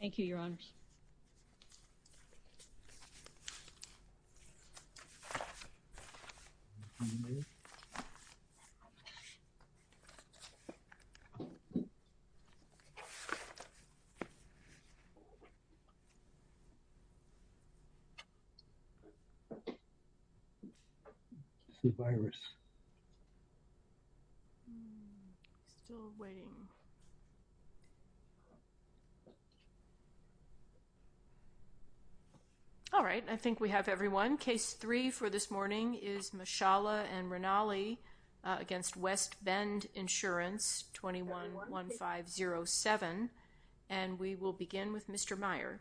Thank you, Your Honors. The virus. Still waiting. All right. I think we have everyone case three for this morning is Mashallah and Rinaldi against West Bend Insurance 21 1507 and we will begin with Mr. Meyer.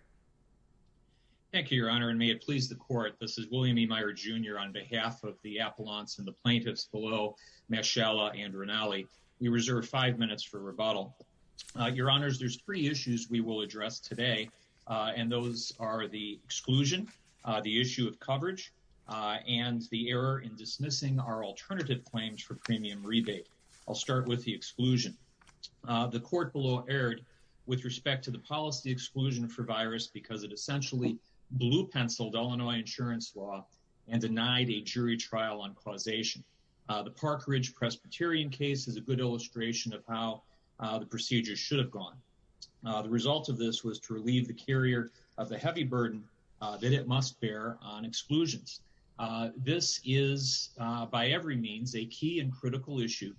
Thank you, Your Honor and may it please the court. This is William E. Meyer jr. On behalf of the Appalachians and the plaintiffs below Mashallah and Rinaldi. We reserve five minutes for rebuttal. Your Honors. There's three issues. We will address today and those are the exclusion the issue of coverage and the error in dismissing our alternative claims for premium rebate. I'll start with the exclusion the court below aired with respect to the policy exclusion for virus because it essentially blue penciled Illinois insurance law and denied a jury trial on causation. The Park Ridge Presbyterian case is a good illustration of how the procedure should have gone. The result of this was to relieve the carrier of the heavy burden that it must bear on exclusions. This is by every means a key and critical issue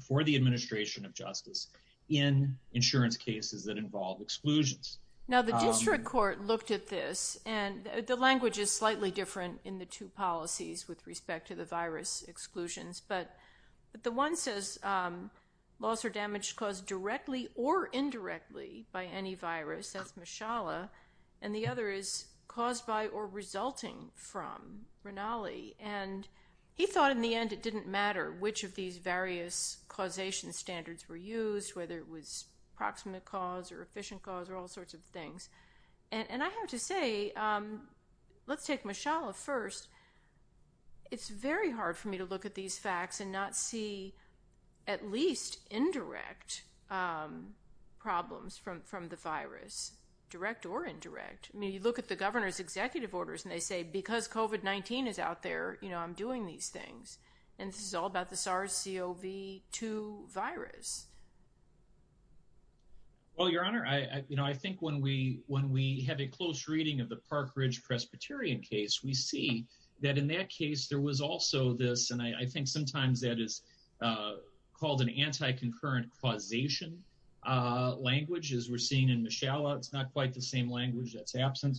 for the administration of Justice in insurance cases that involve exclusions. Now the district court looked at this and the language is slightly different in the two policies with respect to the virus exclusions, but by any virus as Mashallah and the other is caused by or resulting from Rinaldi and he thought in the end, it didn't matter which of these various causation standards were used whether it was proximate cause or efficient cause or all sorts of things and I have to say let's take Mashallah first. It's very hard for me to look at these facts and not see at least indirect problems from the virus direct or indirect. I mean, you look at the governor's executive orders and they say because COVID-19 is out there, you know, I'm doing these things and this is all about the SARS-CoV-2 virus. Well, your honor, I you know, I think when we when we have a close reading of the Park Ridge Presbyterian case, we see that in that case there was also this and I think sometimes that is called an anti-concurrent causation language as we're seeing in Mashallah. It's not quite the same language that's absent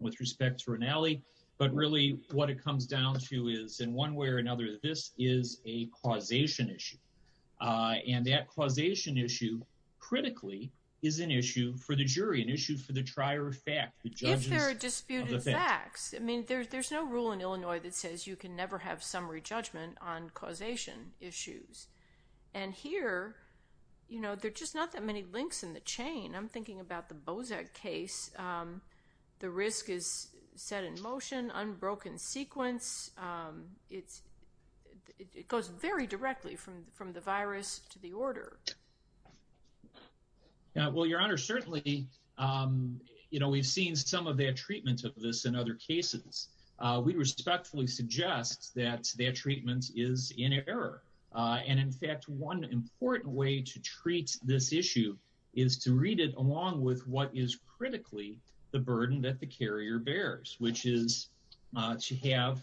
with respect to Rinaldi, but really what it comes down to is in one way or another this is a causation issue and that causation issue critically is an issue for the jury, an issue for the trier of fact. If there are disputed facts, I mean, there's no rule in Illinois that says you can never have summary judgment on causation issues and here, you know, they're just not that many links in the chain. I'm thinking about the Bozak case. The risk is set in motion, unbroken sequence. It's it goes very directly from from the virus to the order. Well, your honor, certainly, you know, we've seen some of their treatment of this in other cases. We respectfully suggest that their treatment is in error. And in fact, one important way to treat this issue is to read it along with what is critically the burden that the carrier bears, which is to have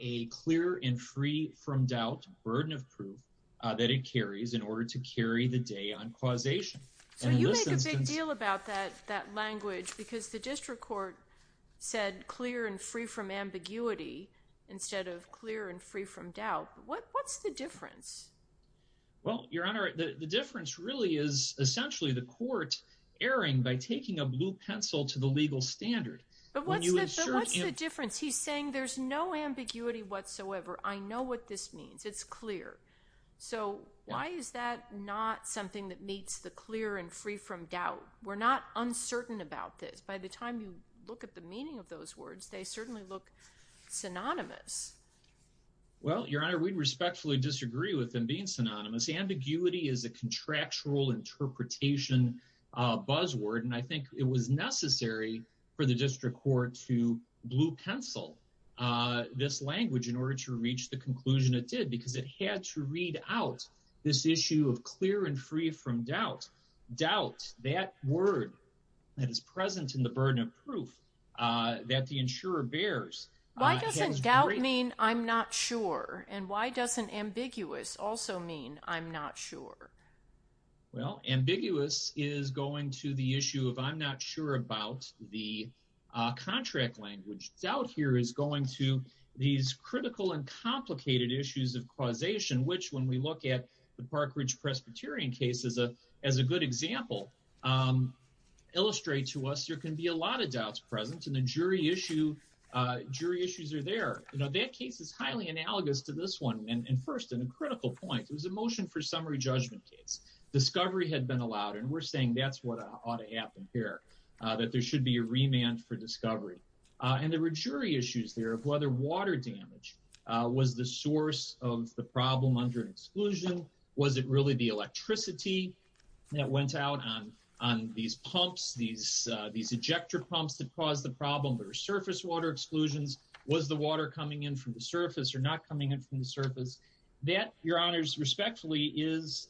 a clear and free from doubt burden of proof that it carries in order to carry the day on causation. So you make a big deal about that language because the district court said clear and free from ambiguity instead of clear and free from doubt. What's the difference? Well, your honor, the difference really is essentially the court erring by taking a blue pencil to the legal standard, but when you insert a difference, he's saying there's no ambiguity whatsoever. I know what this means. It's clear. So why is that not something that meets the clear and free from doubt? We're not uncertain about this. By the time you look at the meaning of those words, they certainly look synonymous. Well, your honor, we'd respectfully disagree with them being synonymous. Ambiguity is a contractual interpretation buzzword, and I think it was necessary for the district court to blue pencil this language in order to reach the conclusion. It did because it had to read out this issue of clear and free from doubt. Doubt, that word that is present in the burden of proof that the insurer bears. Why doesn't doubt mean I'm not sure? And why doesn't ambiguous also mean I'm not sure? Well, ambiguous is going to the issue of I'm not sure about the contract language. Doubt here is going to these critical and complicated issues of causation, which when we look at the Park Ridge Presbyterian case is as a good example, illustrate to us, there can be a lot of doubts present in the jury issue. Jury issues are there. That case is highly analogous to this one. And first, in a critical point, it was a motion for summary judgment case. Discovery had been allowed, and we're saying that's what ought to happen here, that there should be a remand for discovery. And there were jury issues there of whether water damage was the source of the problem under exclusion. Was it really the electricity that went out on these pumps, these ejector pumps that caused the problem, or surface water exclusions? Was the water coming in from the surface or not coming in from the surface? That, your honors, respectfully is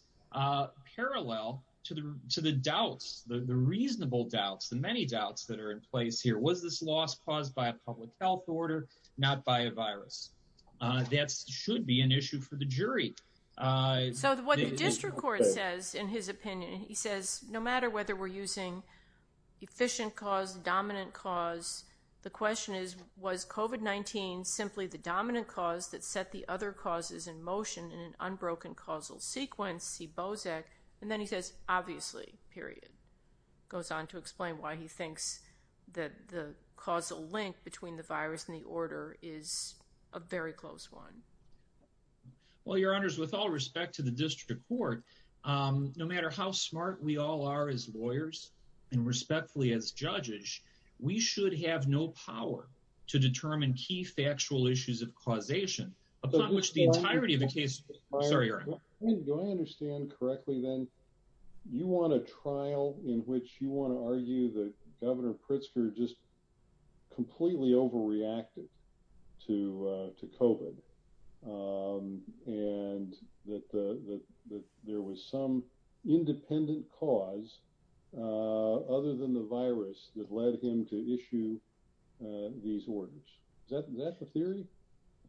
parallel to the doubts, the reasonable doubts, the many doubts that are in place here. Was this loss caused by a public health order, not by a virus? That should be an issue for the jury. So, what the district court says, in his opinion, he says, no matter whether we're using efficient cause, dominant cause, the question is, was COVID-19 simply the dominant cause that set the other causes in motion in an unbroken causal sequence, see Bozek, and then he says, obviously, period. Goes on to explain why he thinks that the causal link between the virus and the order is a very close one. Well, your honors, with all respect to the district court, no matter how smart we all are as lawyers and respectfully as judges, we should have no power to determine key factual issues of causation upon which the entirety of the case... Sorry, your honor. Do I understand correctly then, you want a trial in which you want to argue that Governor Pritzker just completely overreacted to COVID and that there was some independent cause other than the virus that led him to issue these orders. Is that the theory?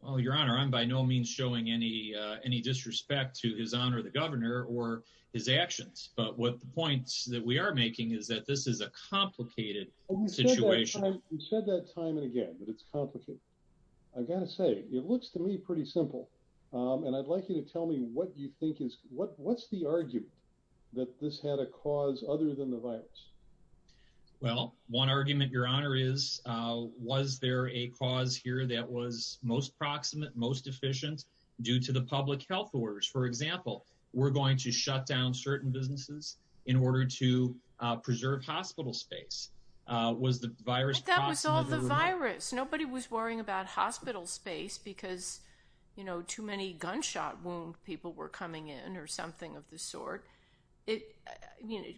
Well, your honor, I'm by no means showing any disrespect to his honor, the governor, or his actions, but what the points that we are making is that this is a complicated situation. You said that time and again, that it's complicated. I gotta say, it looks to me pretty simple, and I'd like you to tell me what you think is... What's the argument that this had a cause other than the virus? Well, one argument, your honor, is was there a cause here that was most proximate, most efficient due to the public health orders? For example, we're going to shut down certain businesses in order to preserve hospital space. Was the virus... But that was all the virus. Nobody was worrying about hospital space because too many gunshot wound people were coming in or something of the sort.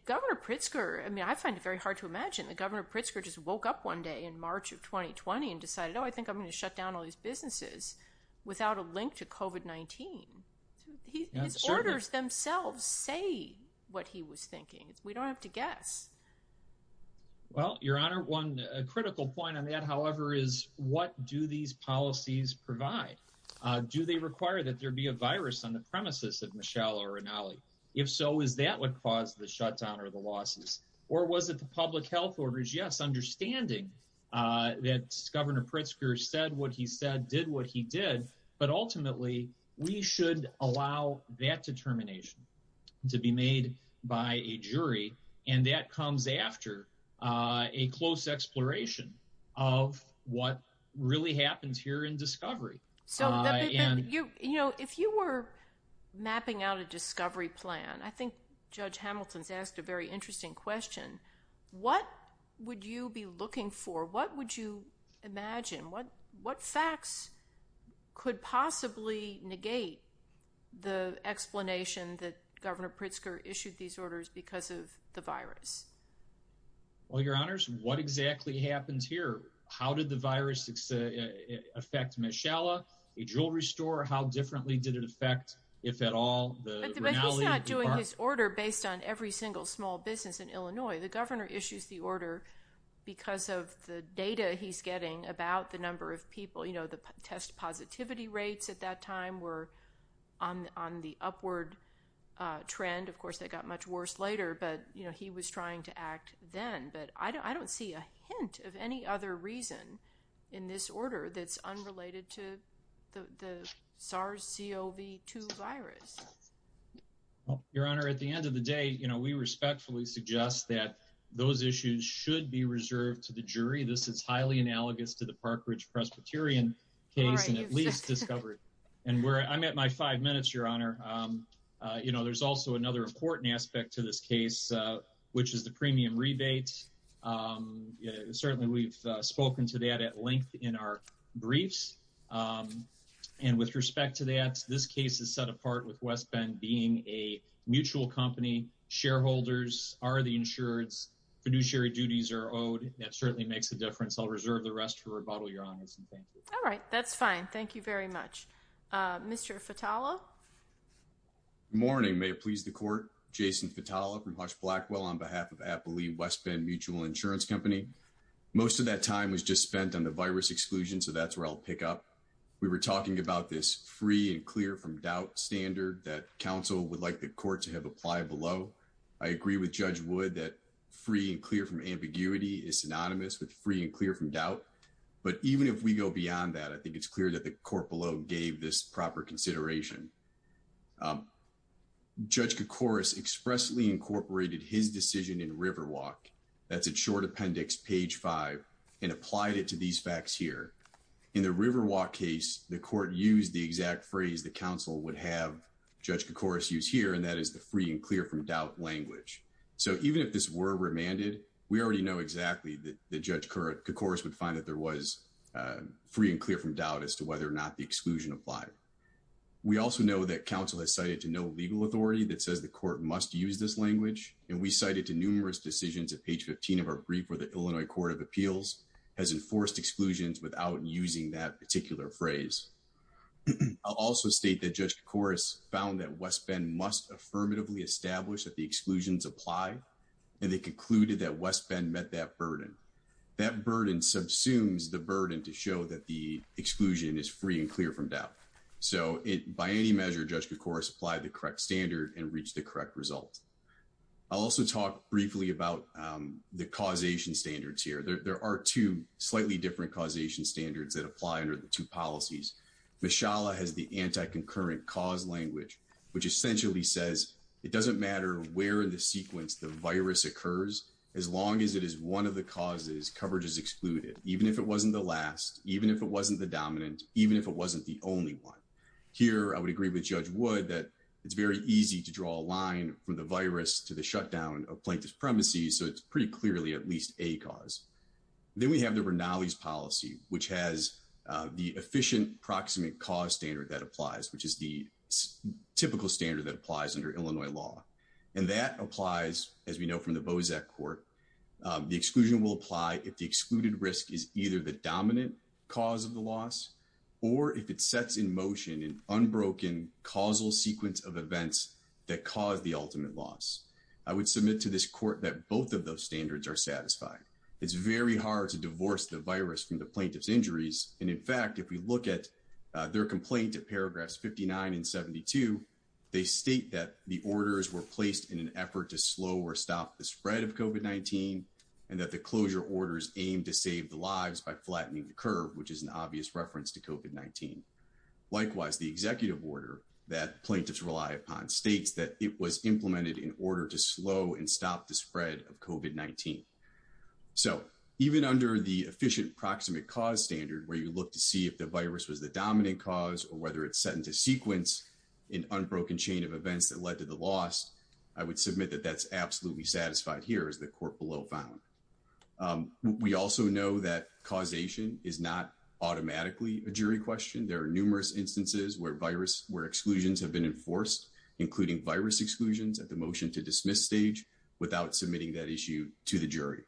Governor Pritzker, I find it very hard to imagine that Governor Pritzker just woke up one day in March of 2020 and decided, oh, I think I'm gonna shut down all these businesses without a link to COVID-19. His orders themselves say what he was thinking. We don't have to guess. Well, your honor, one critical point on that, however, is what do these policies provide? Do they require that there be a virus on the premises of Michelle or Rinaldi? If so, is that what caused the shutdown or the losses? Or was it the public health orders? Yes, understanding that Governor Pritzker said what he said, did what he did, but ultimately we should allow that determination to be made by a jury and that comes after a close exploration of what really happens here in discovery. So, you know, if you were mapping out a discovery plan, I think Judge Hamilton's asked a very interesting question. What would you be looking for? What would you imagine? What facts could possibly negate the explanation that Governor Pritzker issued these orders because of the virus? Well, your honors, what exactly happens here? How did the virus affect Michelle, a jewelry store? How differently did it affect, if at all, the Rinaldi? If he's not doing his order based on every single small business in Illinois, the governor issues the order because of the data he's getting about the number of people, you know, the test positivity rates at that time were on the upward trend. Of course, they got much worse later, but you know, he was trying to act then, but I don't see a hint of any other reason in this order that's unrelated to the SARS-CoV-2 virus. Your honor, at the end of the day, you know, we respectfully suggest that those issues should be reserved to the jury. This is highly analogous to the Park Ridge Presbyterian case and at least discovered. And where I'm at my five minutes, your honor, you know, there's also another important aspect to this case, which is the premium rebates. Certainly, we've spoken to that at length in our briefs. And with respect to that, this case is set apart with West Bend being a mutual company. Shareholders are the insureds. Fiduciary duties are owed. That certainly makes a difference. I'll reserve the rest for rebuttal, your honor. All right, that's fine. Thank you very much, Mr. Fatala. Good morning, may it please the court. Jason Fatala from Hush Blackwell on behalf of Appalachian West Bend Mutual Insurance Company. Most of that time was just spent on the virus exclusion. So that's where I'll pick up. We were talking about this free and clear from doubt standard that counsel would like the court to have applied below. I agree with Judge Wood that free and clear from ambiguity is synonymous with free and clear from doubt. But even if we go beyond that, I think it's clear that the court below gave this proper consideration. Judge Kokoris expressly incorporated his decision in Riverwalk. That's a short appendix, page 5, and applied it to these facts here. In the Riverwalk case, the court used the exact phrase that counsel would have Judge Kokoris use here, and that is the free and clear from doubt language. So even if this were remanded, we already know exactly that Judge Kokoris would find that there was free and clear from doubt as to whether or not the exclusion applied. We also know that counsel has cited to no legal authority that says the court must use this language, and we cited to numerous decisions at page 15 of our brief where the Illinois Court of Appeals has enforced exclusions without using that particular phrase. I'll also state that Judge Kokoris found that West Bend must affirmatively establish that the exclusions apply, and they concluded that West Bend met that burden. That burden subsumes the burden to show that the exclusion is free and clear from doubt. So by any measure, Judge Kokoris applied the correct standard and reached the correct result. I'll also talk briefly about the causation standards here. There are two slightly different causation standards that apply under the two policies. Mishala has the anti-concurrent cause language, which essentially says it doesn't matter where in the sequence the virus occurs, as long as it is one of the causes, coverage is excluded, even if it wasn't the last, even if it wasn't the dominant, even if it wasn't the only one. Here, I would agree with Judge Wood that it's very easy to draw a line from the virus to the shutdown of plaintiff's premises, so it's pretty clearly at least a cause. Then we have the Rinaldi's policy, which has the efficient proximate cause standard that applies, which is the typical standard that applies under Illinois law. And that applies, as we know from the Bozak Court, the exclusion will apply if the excluded risk is either the dominant cause of the loss, or if it sets in motion an unbroken causal sequence of events that cause the ultimate loss. I would submit to this court that both of those standards are satisfied. It's very hard to divorce the virus from the plaintiff's injuries, and in fact, if we look at their complaint at paragraphs 59 and 72, they state that the orders were placed in an effort to slow or stop the spread of COVID-19, and that the closure orders aimed to save the lives by flattening the curve, which is an obvious reference to COVID-19. Likewise, the executive order that plaintiffs rely upon states that it was implemented in order to slow and stop the spread of COVID-19. So, even under the efficient proximate cause standard, where you look to see if the virus was the dominant cause, or whether it's set into sequence, an unbroken chain of events that led to the loss, I would submit that that's absolutely satisfied here, as the court below found. We also know that causation is not automatically a jury question. There are numerous instances where exclusions have been enforced, including virus exclusions at the motion to dismiss stage, without submitting that issue to the jury.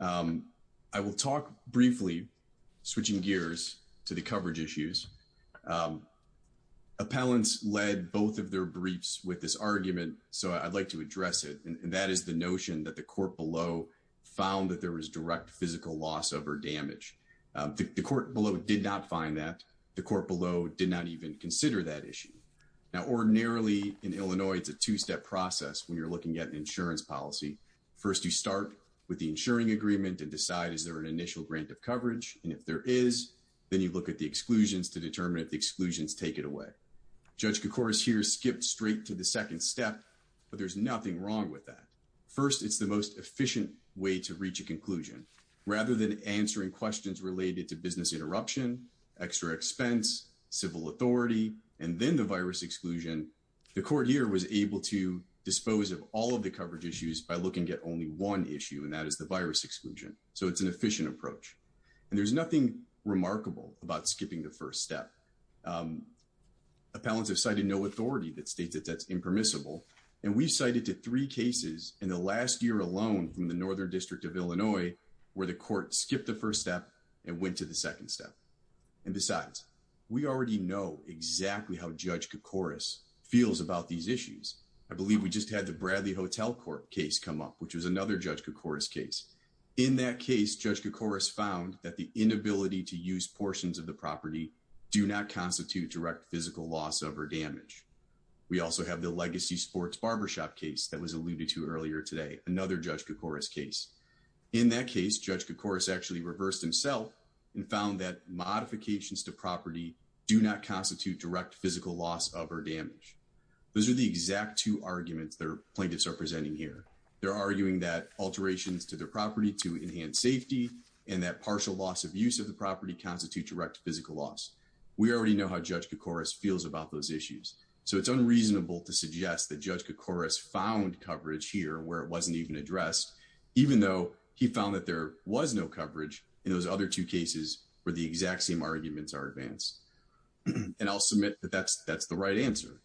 I will talk briefly, switching gears to the coverage issues. Appellants led both of their briefs with this argument, so I'd like to address it, and that is the notion that the court below found that there was direct physical loss over damage. The court below did not find that. The court below did not even consider that issue. Now, ordinarily in Illinois, it's a two-step process when you're looking at an insurance policy. First, you start with the insuring agreement and decide, is there an initial grant of coverage? And if there is, then you look at the exclusions to determine if the exclusions take it away. Judge Kokoris here skipped straight to the second step, but there's nothing wrong with that. First, it's the most efficient way to reach a conclusion. Rather than answering questions related to business interruption, extra expense, civil authority, and then the virus exclusion, the court here was able to dispose of all of the coverage issues by looking at only one issue, and that is the virus exclusion, so it's an efficient approach. And there's nothing remarkable about skipping the first step. Appellants have cited no authority that states that that's impermissible, and we've cited to three cases in the last year alone from the Northern District of Illinois where the court skipped the first step and went to the second step. And besides, we already know exactly how Judge Kokoris feels about these issues. I believe we just had the Bradley Hotel Court case come up, which was another Judge Kokoris case. In that case, Judge Kokoris found that the inability to use portions of the property do not constitute direct physical loss of or damage. We also have the Legacy Sports Barbershop case that was alluded to earlier today, another Judge Kokoris case. In that case, Judge Kokoris actually reversed himself and found that modifications to property do not constitute direct physical loss of or damage. Those are the exact two arguments that plaintiffs are presenting here. They're arguing that alterations to their property to enhance safety and that partial loss of use of the property constitute direct physical loss. We already know how Judge Kokoris feels about those issues, so it's unreasonable to suggest that Judge Kokoris found coverage here where it wasn't even addressed, even though he found that there was no coverage in those other two cases where the exact same arguments are advanced. And I'll submit that that's the right answer.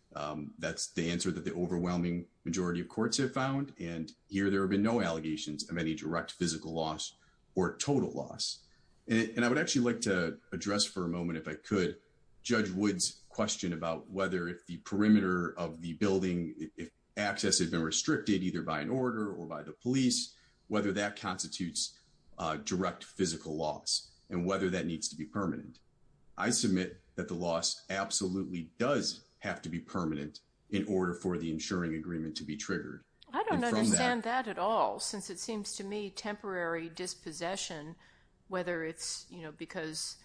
That's the answer that the overwhelming majority of courts have found, and here there have been no allegations of any direct physical loss or total loss. And I would actually like to address for a moment if I could, Judge Wood's question about whether if the perimeter of the building, if access had been restricted either by an order or by the police, whether that constitutes direct physical loss and whether that needs to be permanent. I submit that the loss absolutely does have to be permanent in order for the insuring agreement to be triggered. I don't understand that at all, since it seems to me temporary dispossession, whether it's, you know, because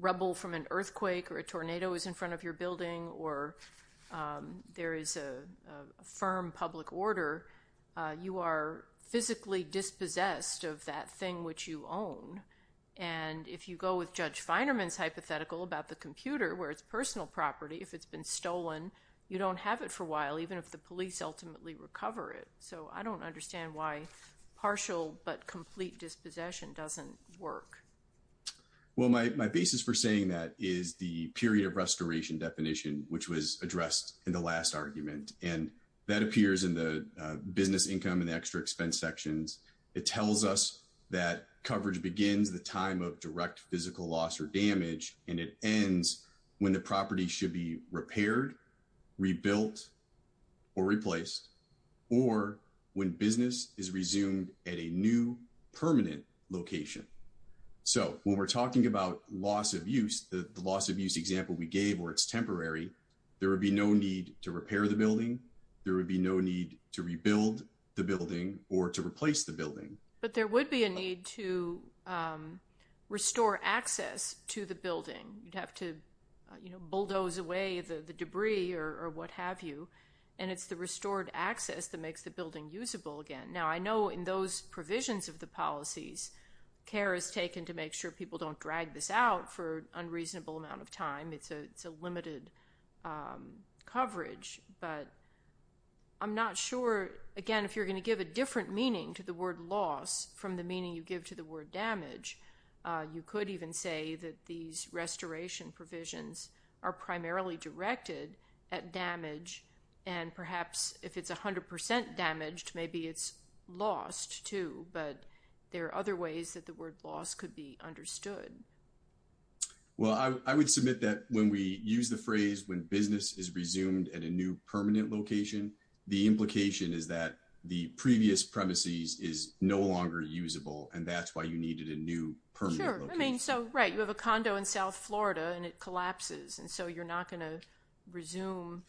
rubble from an earthquake or a tornado is in front of your building or there is a firm public order, you are physically dispossessed of that thing which you own. And if you go with Judge Finerman's hypothetical about the computer where it's personal property, if it's been stolen, you don't have it for a while, even if the police ultimately recover it. So I don't understand why partial but complete dispossession doesn't work. Well, my basis for saying that is the period of restoration definition, which was addressed in the last argument, and that appears in the business income and extra expense sections. It tells us that coverage begins the time of direct physical loss or damage and it ends when the property should be repaired, rebuilt or replaced, or when business is resumed at a new permanent location. So when we're talking about loss of use, the loss of use example we gave where it's temporary, there would be no need to repair the building, there would be no need to rebuild the building or to replace the building, but there would be a need to restore access to the building. You'd have to, you know, bulldoze away the debris or what have you, and it's the restored access that makes the building usable again. Now, I know in those provisions of the policies, care is taken to make sure people don't drag this out for unreasonable amount of time. I'm going to give a different meaning to the word loss from the meaning you give to the word damage. You could even say that these restoration provisions are primarily directed at damage and perhaps if it's a hundred percent damaged, maybe it's lost too, but there are other ways that the word loss could be understood. Well, I would submit that when we use the phrase when business is resumed at a new permanent location, the implication is that the previous premises is no longer usable and that's why you needed a new permanent location. Sure, I mean, so right, you have a condo in South Florida and it collapses and so you're not going to resume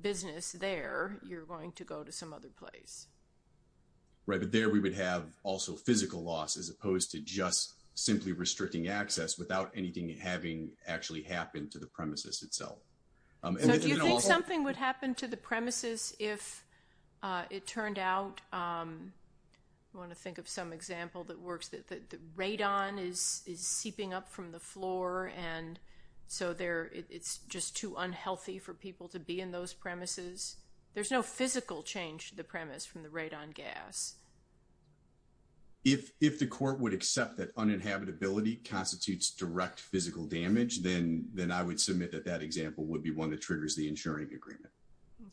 business there. You're going to go to some other place. Right, but there we would have also physical loss as opposed to just simply restricting access without anything having actually happened to the premises itself. So do you think something would happen to the premises if it turned out, I want to think of some example that works, that the radon is seeping up from the floor and so it's just too unhealthy for people to be in those premises. There's no physical change to the premise from the radon gas. If the court would accept that uninhabitability constitutes direct physical damage, then I would submit that that example would be one that triggers the insuring agreement.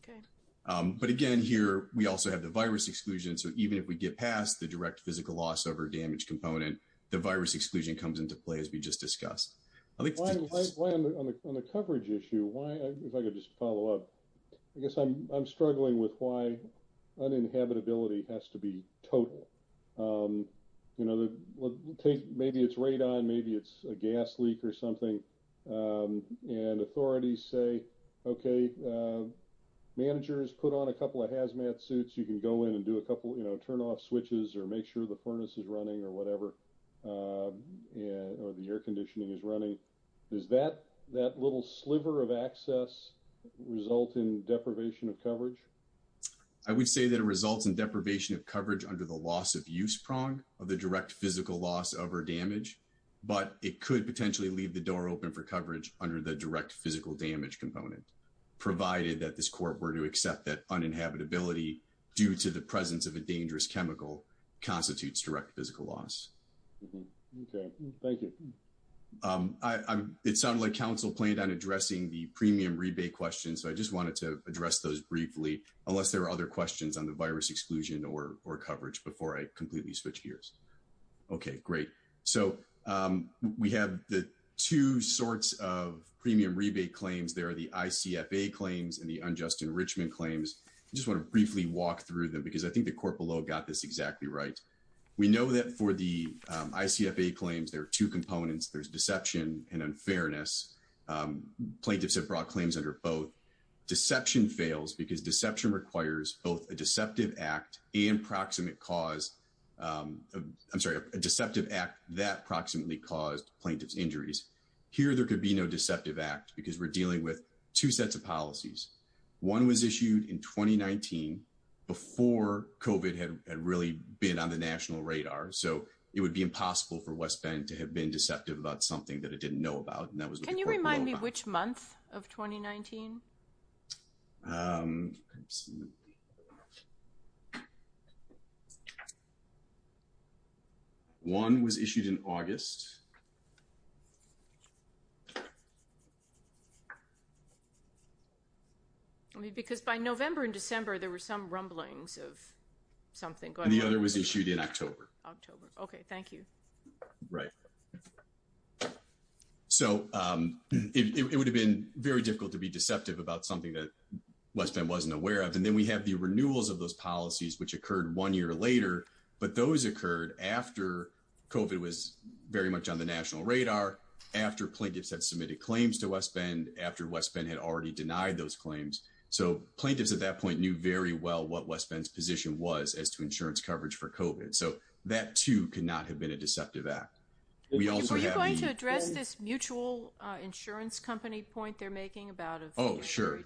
Okay, but again here we also have the virus exclusion. So even if we get past the direct physical loss over damage component, the virus exclusion comes into play as we just discussed. I think on the coverage issue, if I could just follow up, I guess I'm struggling with why uninhabitability has to be total. You know, maybe it's radon, maybe it's a gas leak or something and authorities say, okay, managers put on a couple of hazmat suits. You can go in and do a couple, you know, turn off switches or make sure the furnace is running or whatever or the air conditioning is running. Is that that little sliver of access result in deprivation of coverage? I would say that it results in deprivation of coverage under the loss of use prong of the direct physical loss over damage, but it could potentially leave the door open for coverage under the direct physical damage component provided that this court were to accept that uninhabitability due to the presence of a dangerous chemical constitutes direct physical loss. Thank you. It sounded like council planned on addressing the premium rebate question. So I just wanted to address those briefly unless there are other questions on the virus exclusion or coverage before I completely switch gears. Okay, great. So we have the two sorts of premium rebate claims. There are the ICF a claims and the unjust enrichment claims just want to briefly walk through them because I think the court below got this exactly right. We know that for the ICF a claims. There are two components. There's deception and unfairness plaintiffs have brought claims under both deception fails because deception requires both a deceptive act that approximately caused plaintiffs injuries here. There could be no deceptive act because we're dealing with two sets of policies one was issued in 2019 before covid had really been on the national radar. So it would be impossible for West Bend to have been deceptive about something that it didn't know about and that was can you remind me which month of 2019? One was issued in August. Because by November in December, there were some rumblings of something going the other was issued in October October. Okay. Thank you, right? So it would have been very difficult to be deceptive about something that West End wasn't aware of and then we have the renewals of those covid was very much on the national radar after plaintiffs had submitted claims to West Bend after West Bend had already denied those claims. So plaintiffs at that point knew very well what West Bend's position was as to insurance coverage for covid. So that too could not have been a deceptive act. We also going to address this mutual insurance company point. They're making about it. Oh sure.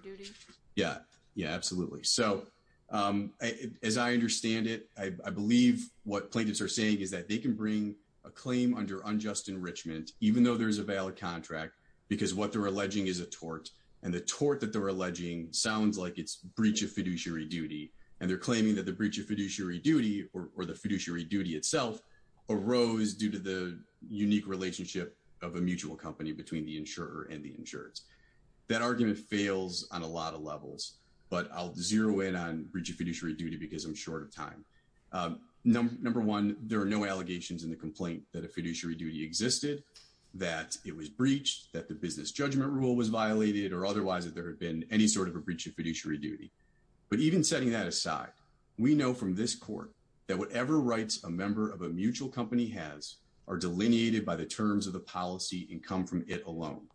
Yeah. Yeah, absolutely. So as I understand it, I believe what plaintiffs are saying is that they can bring a claim under unjust enrichment, even though there's a valid contract because what they're alleging is a tort and the tort that they're alleging sounds like it's breach of fiduciary duty and they're claiming that the breach of fiduciary duty or the fiduciary duty itself arose due to the unique relationship of a mutual company between the insurer and the insurance that argument fails on a lot of levels, but I'll zero in on bridge of fiduciary duty because I'm short of time number one. There are no allegations in the complaint that a fiduciary duty existed that it was breached that the business judgment rule was violated or otherwise if there had been any sort of a breach of fiduciary duty, but even setting that aside, we know from this court that whatever rights a member of a mutual company has are delineated by the terms of the policy and come from it alone.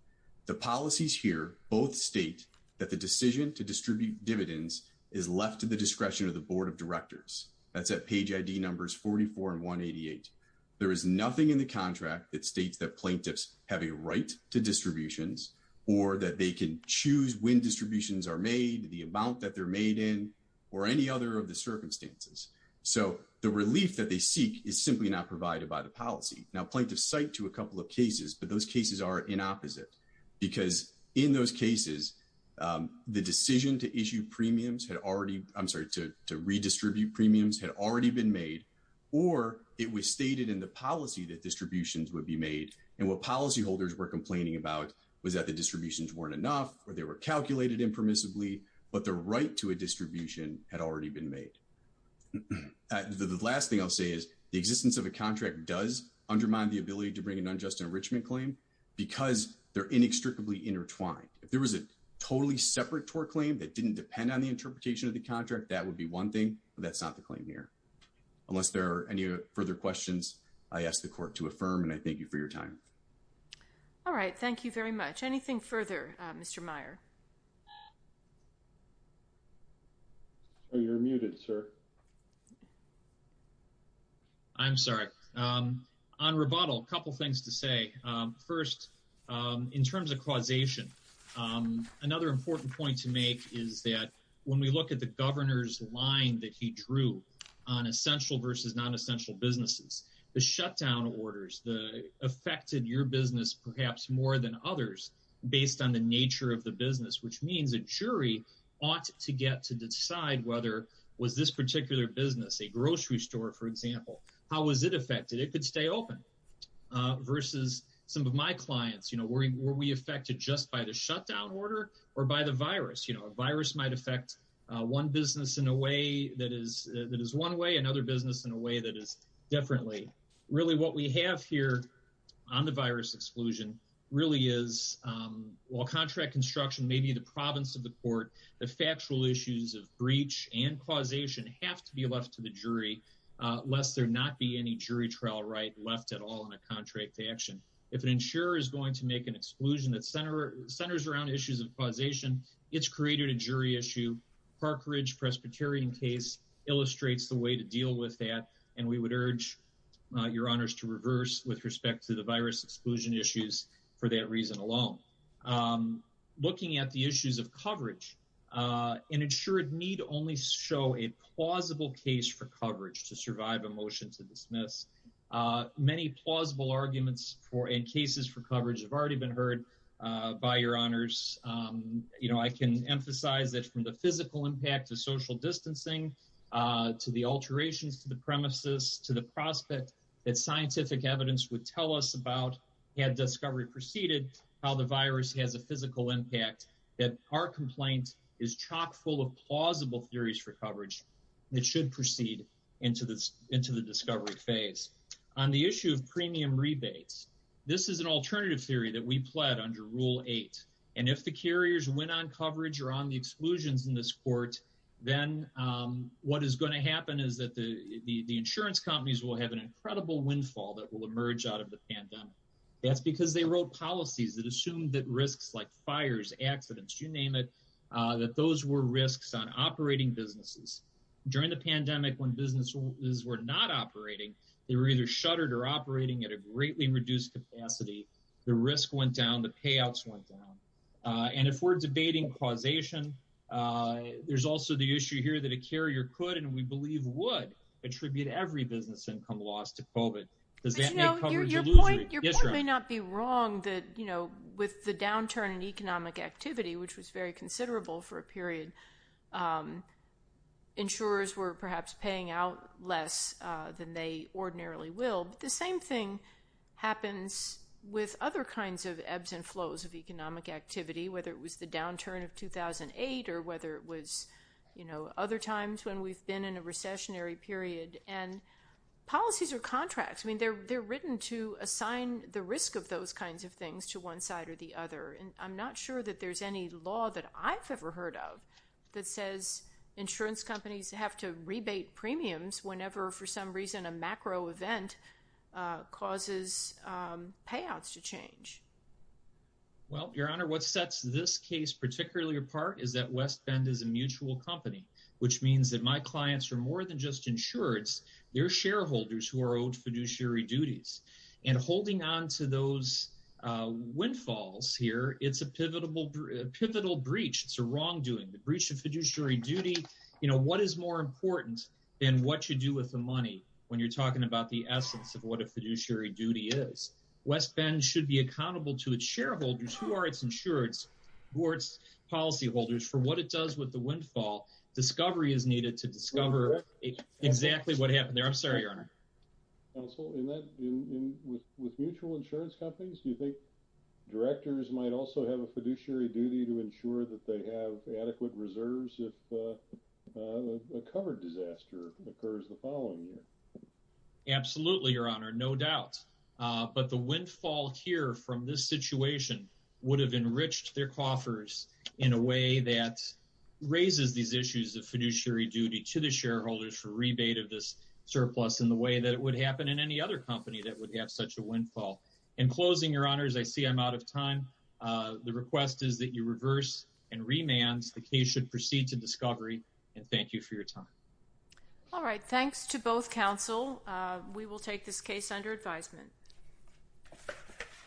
The policies here both state that the decision to distribute dividends is left to the discretion of the board of directors. That's at page ID numbers 44 and 188. There is nothing in the contract that states that plaintiffs have a right to distributions or that they can choose when distributions are made the amount that they're made in or any other of the circumstances. So the relief that they seek is simply not provided by the policy now plaintiff site to a couple of cases, but those cases are in opposite because in those cases the decision to issue premiums had already. I'm sorry to redistribute premiums had already been made or it was stated in the policy that distributions would be made and what policyholders were complaining about was that the distributions weren't enough or they were calculated impermissibly, but the right to a distribution had already been made. The last thing I'll say is the existence of a contract does undermine the ability to bring an unjust enrichment claim because they're inextricably intertwined. If there was a totally separate tour claim that didn't depend on the interpretation of the contract, that would be one thing, but that's not the claim here. Unless there are any further questions. I asked the court to affirm and I thank you for your time. All right. Thank you very much. Anything further. Mr. Meyer. You're muted, sir. I'm sorry on rebuttal a couple things to say first in terms of when we look at the governor's line that he drew on essential versus non-essential businesses, the shutdown orders, the affected your business, perhaps more than others based on the nature of the business, which means a jury ought to get to decide whether was this particular business a grocery store, for example, how was it affected? It could stay open versus some of my clients, you know, worrying were we affected just by the shutdown order or by the virus, you one business in a way that is that is one way. Another business in a way that is definitely really what we have here on the virus exclusion really is while contract construction, maybe the province of the court, the factual issues of breach and causation have to be left to the jury, lest there not be any jury trial right left at all in a contract to action. If an insurer is going to make an exclusion that center centers around issues of causation. It's created a jury issue Park Ridge Presbyterian case illustrates the way to deal with that and we would urge your honors to reverse with respect to the virus exclusion issues for that reason alone. Looking at the issues of coverage and ensure it need only show a plausible case for coverage to survive a motion to dismiss many plausible arguments for in cases for coverage have already been heard by your honors, you know, I can emphasize that from the physical impact of social distancing to the alterations to the premises to the prospect that scientific evidence would tell us about had Discovery proceeded how the virus has a physical impact that our complaint is chock-full of plausible theories for coverage. It should proceed into this into the discovery phase on the issue of premium rebates. This is an alternative theory that we pled under rule 8 and if the carriers went on coverage or on the exclusions in this court, then what is going to happen is that the the the insurance companies will have an incredible windfall that will emerge out of the pandemic. That's because they wrote policies that assumed that risks like fires accidents, you name it that those were risks on operating businesses during the pandemic when businesses were not operating. They were either shuttered or operating at a greatly reduced capacity. The risk went down the payouts went down and if we're debating causation, there's also the issue here that a carrier could and we believe would attribute every business income loss to covid does that know your point your point may not be wrong that you know with the downturn in economic activity, which was very considerable for a period. Insurers were perhaps paying out less than they ordinarily will the same thing happens with other kinds of ebbs and flows of economic activity, whether it was the downturn of 2008 or whether it was, you know other times when we've been in a recessionary period and policies are contracts. I mean, they're they're written to assign the risk of those kinds of things to one side or the other and I'm not sure that there's any law that I've ever heard of that says insurance companies have to rebate premiums whenever for some reason a macro event causes payouts to change. Well, your honor what sets this case particularly apart is that West Bend is a mutual company, which means that my clients are more than just insurance their shareholders who are owed fiduciary duties and holding on to those windfalls here. It's a pivotal breach. It's a wrongdoing the breach of fiduciary duty, you know, what is more important than what you do with the money when you're talking about the essence of what a fiduciary duty is West Bend should be accountable to its shareholders who are its insurance boards policyholders for what it does with the windfall Discovery is needed to discover exactly what happened there. I'm sorry, your honor. With mutual insurance companies. Do you think directors might also have a fiduciary duty to ensure that they have adequate reserves if a covered disaster occurs the following year? Absolutely, your honor. No doubt, but the windfall here from this situation would have enriched their coffers in a way that raises these issues of fiduciary duty to the shareholders for rebate of this surplus in the way that it would happen in any other company that would have such a windfall in closing your honors. I see I'm out of time. The request is that you reverse and remands the case should proceed to Discovery and thank you for your time. All right. Thanks to both Council. We will take this case under advisement.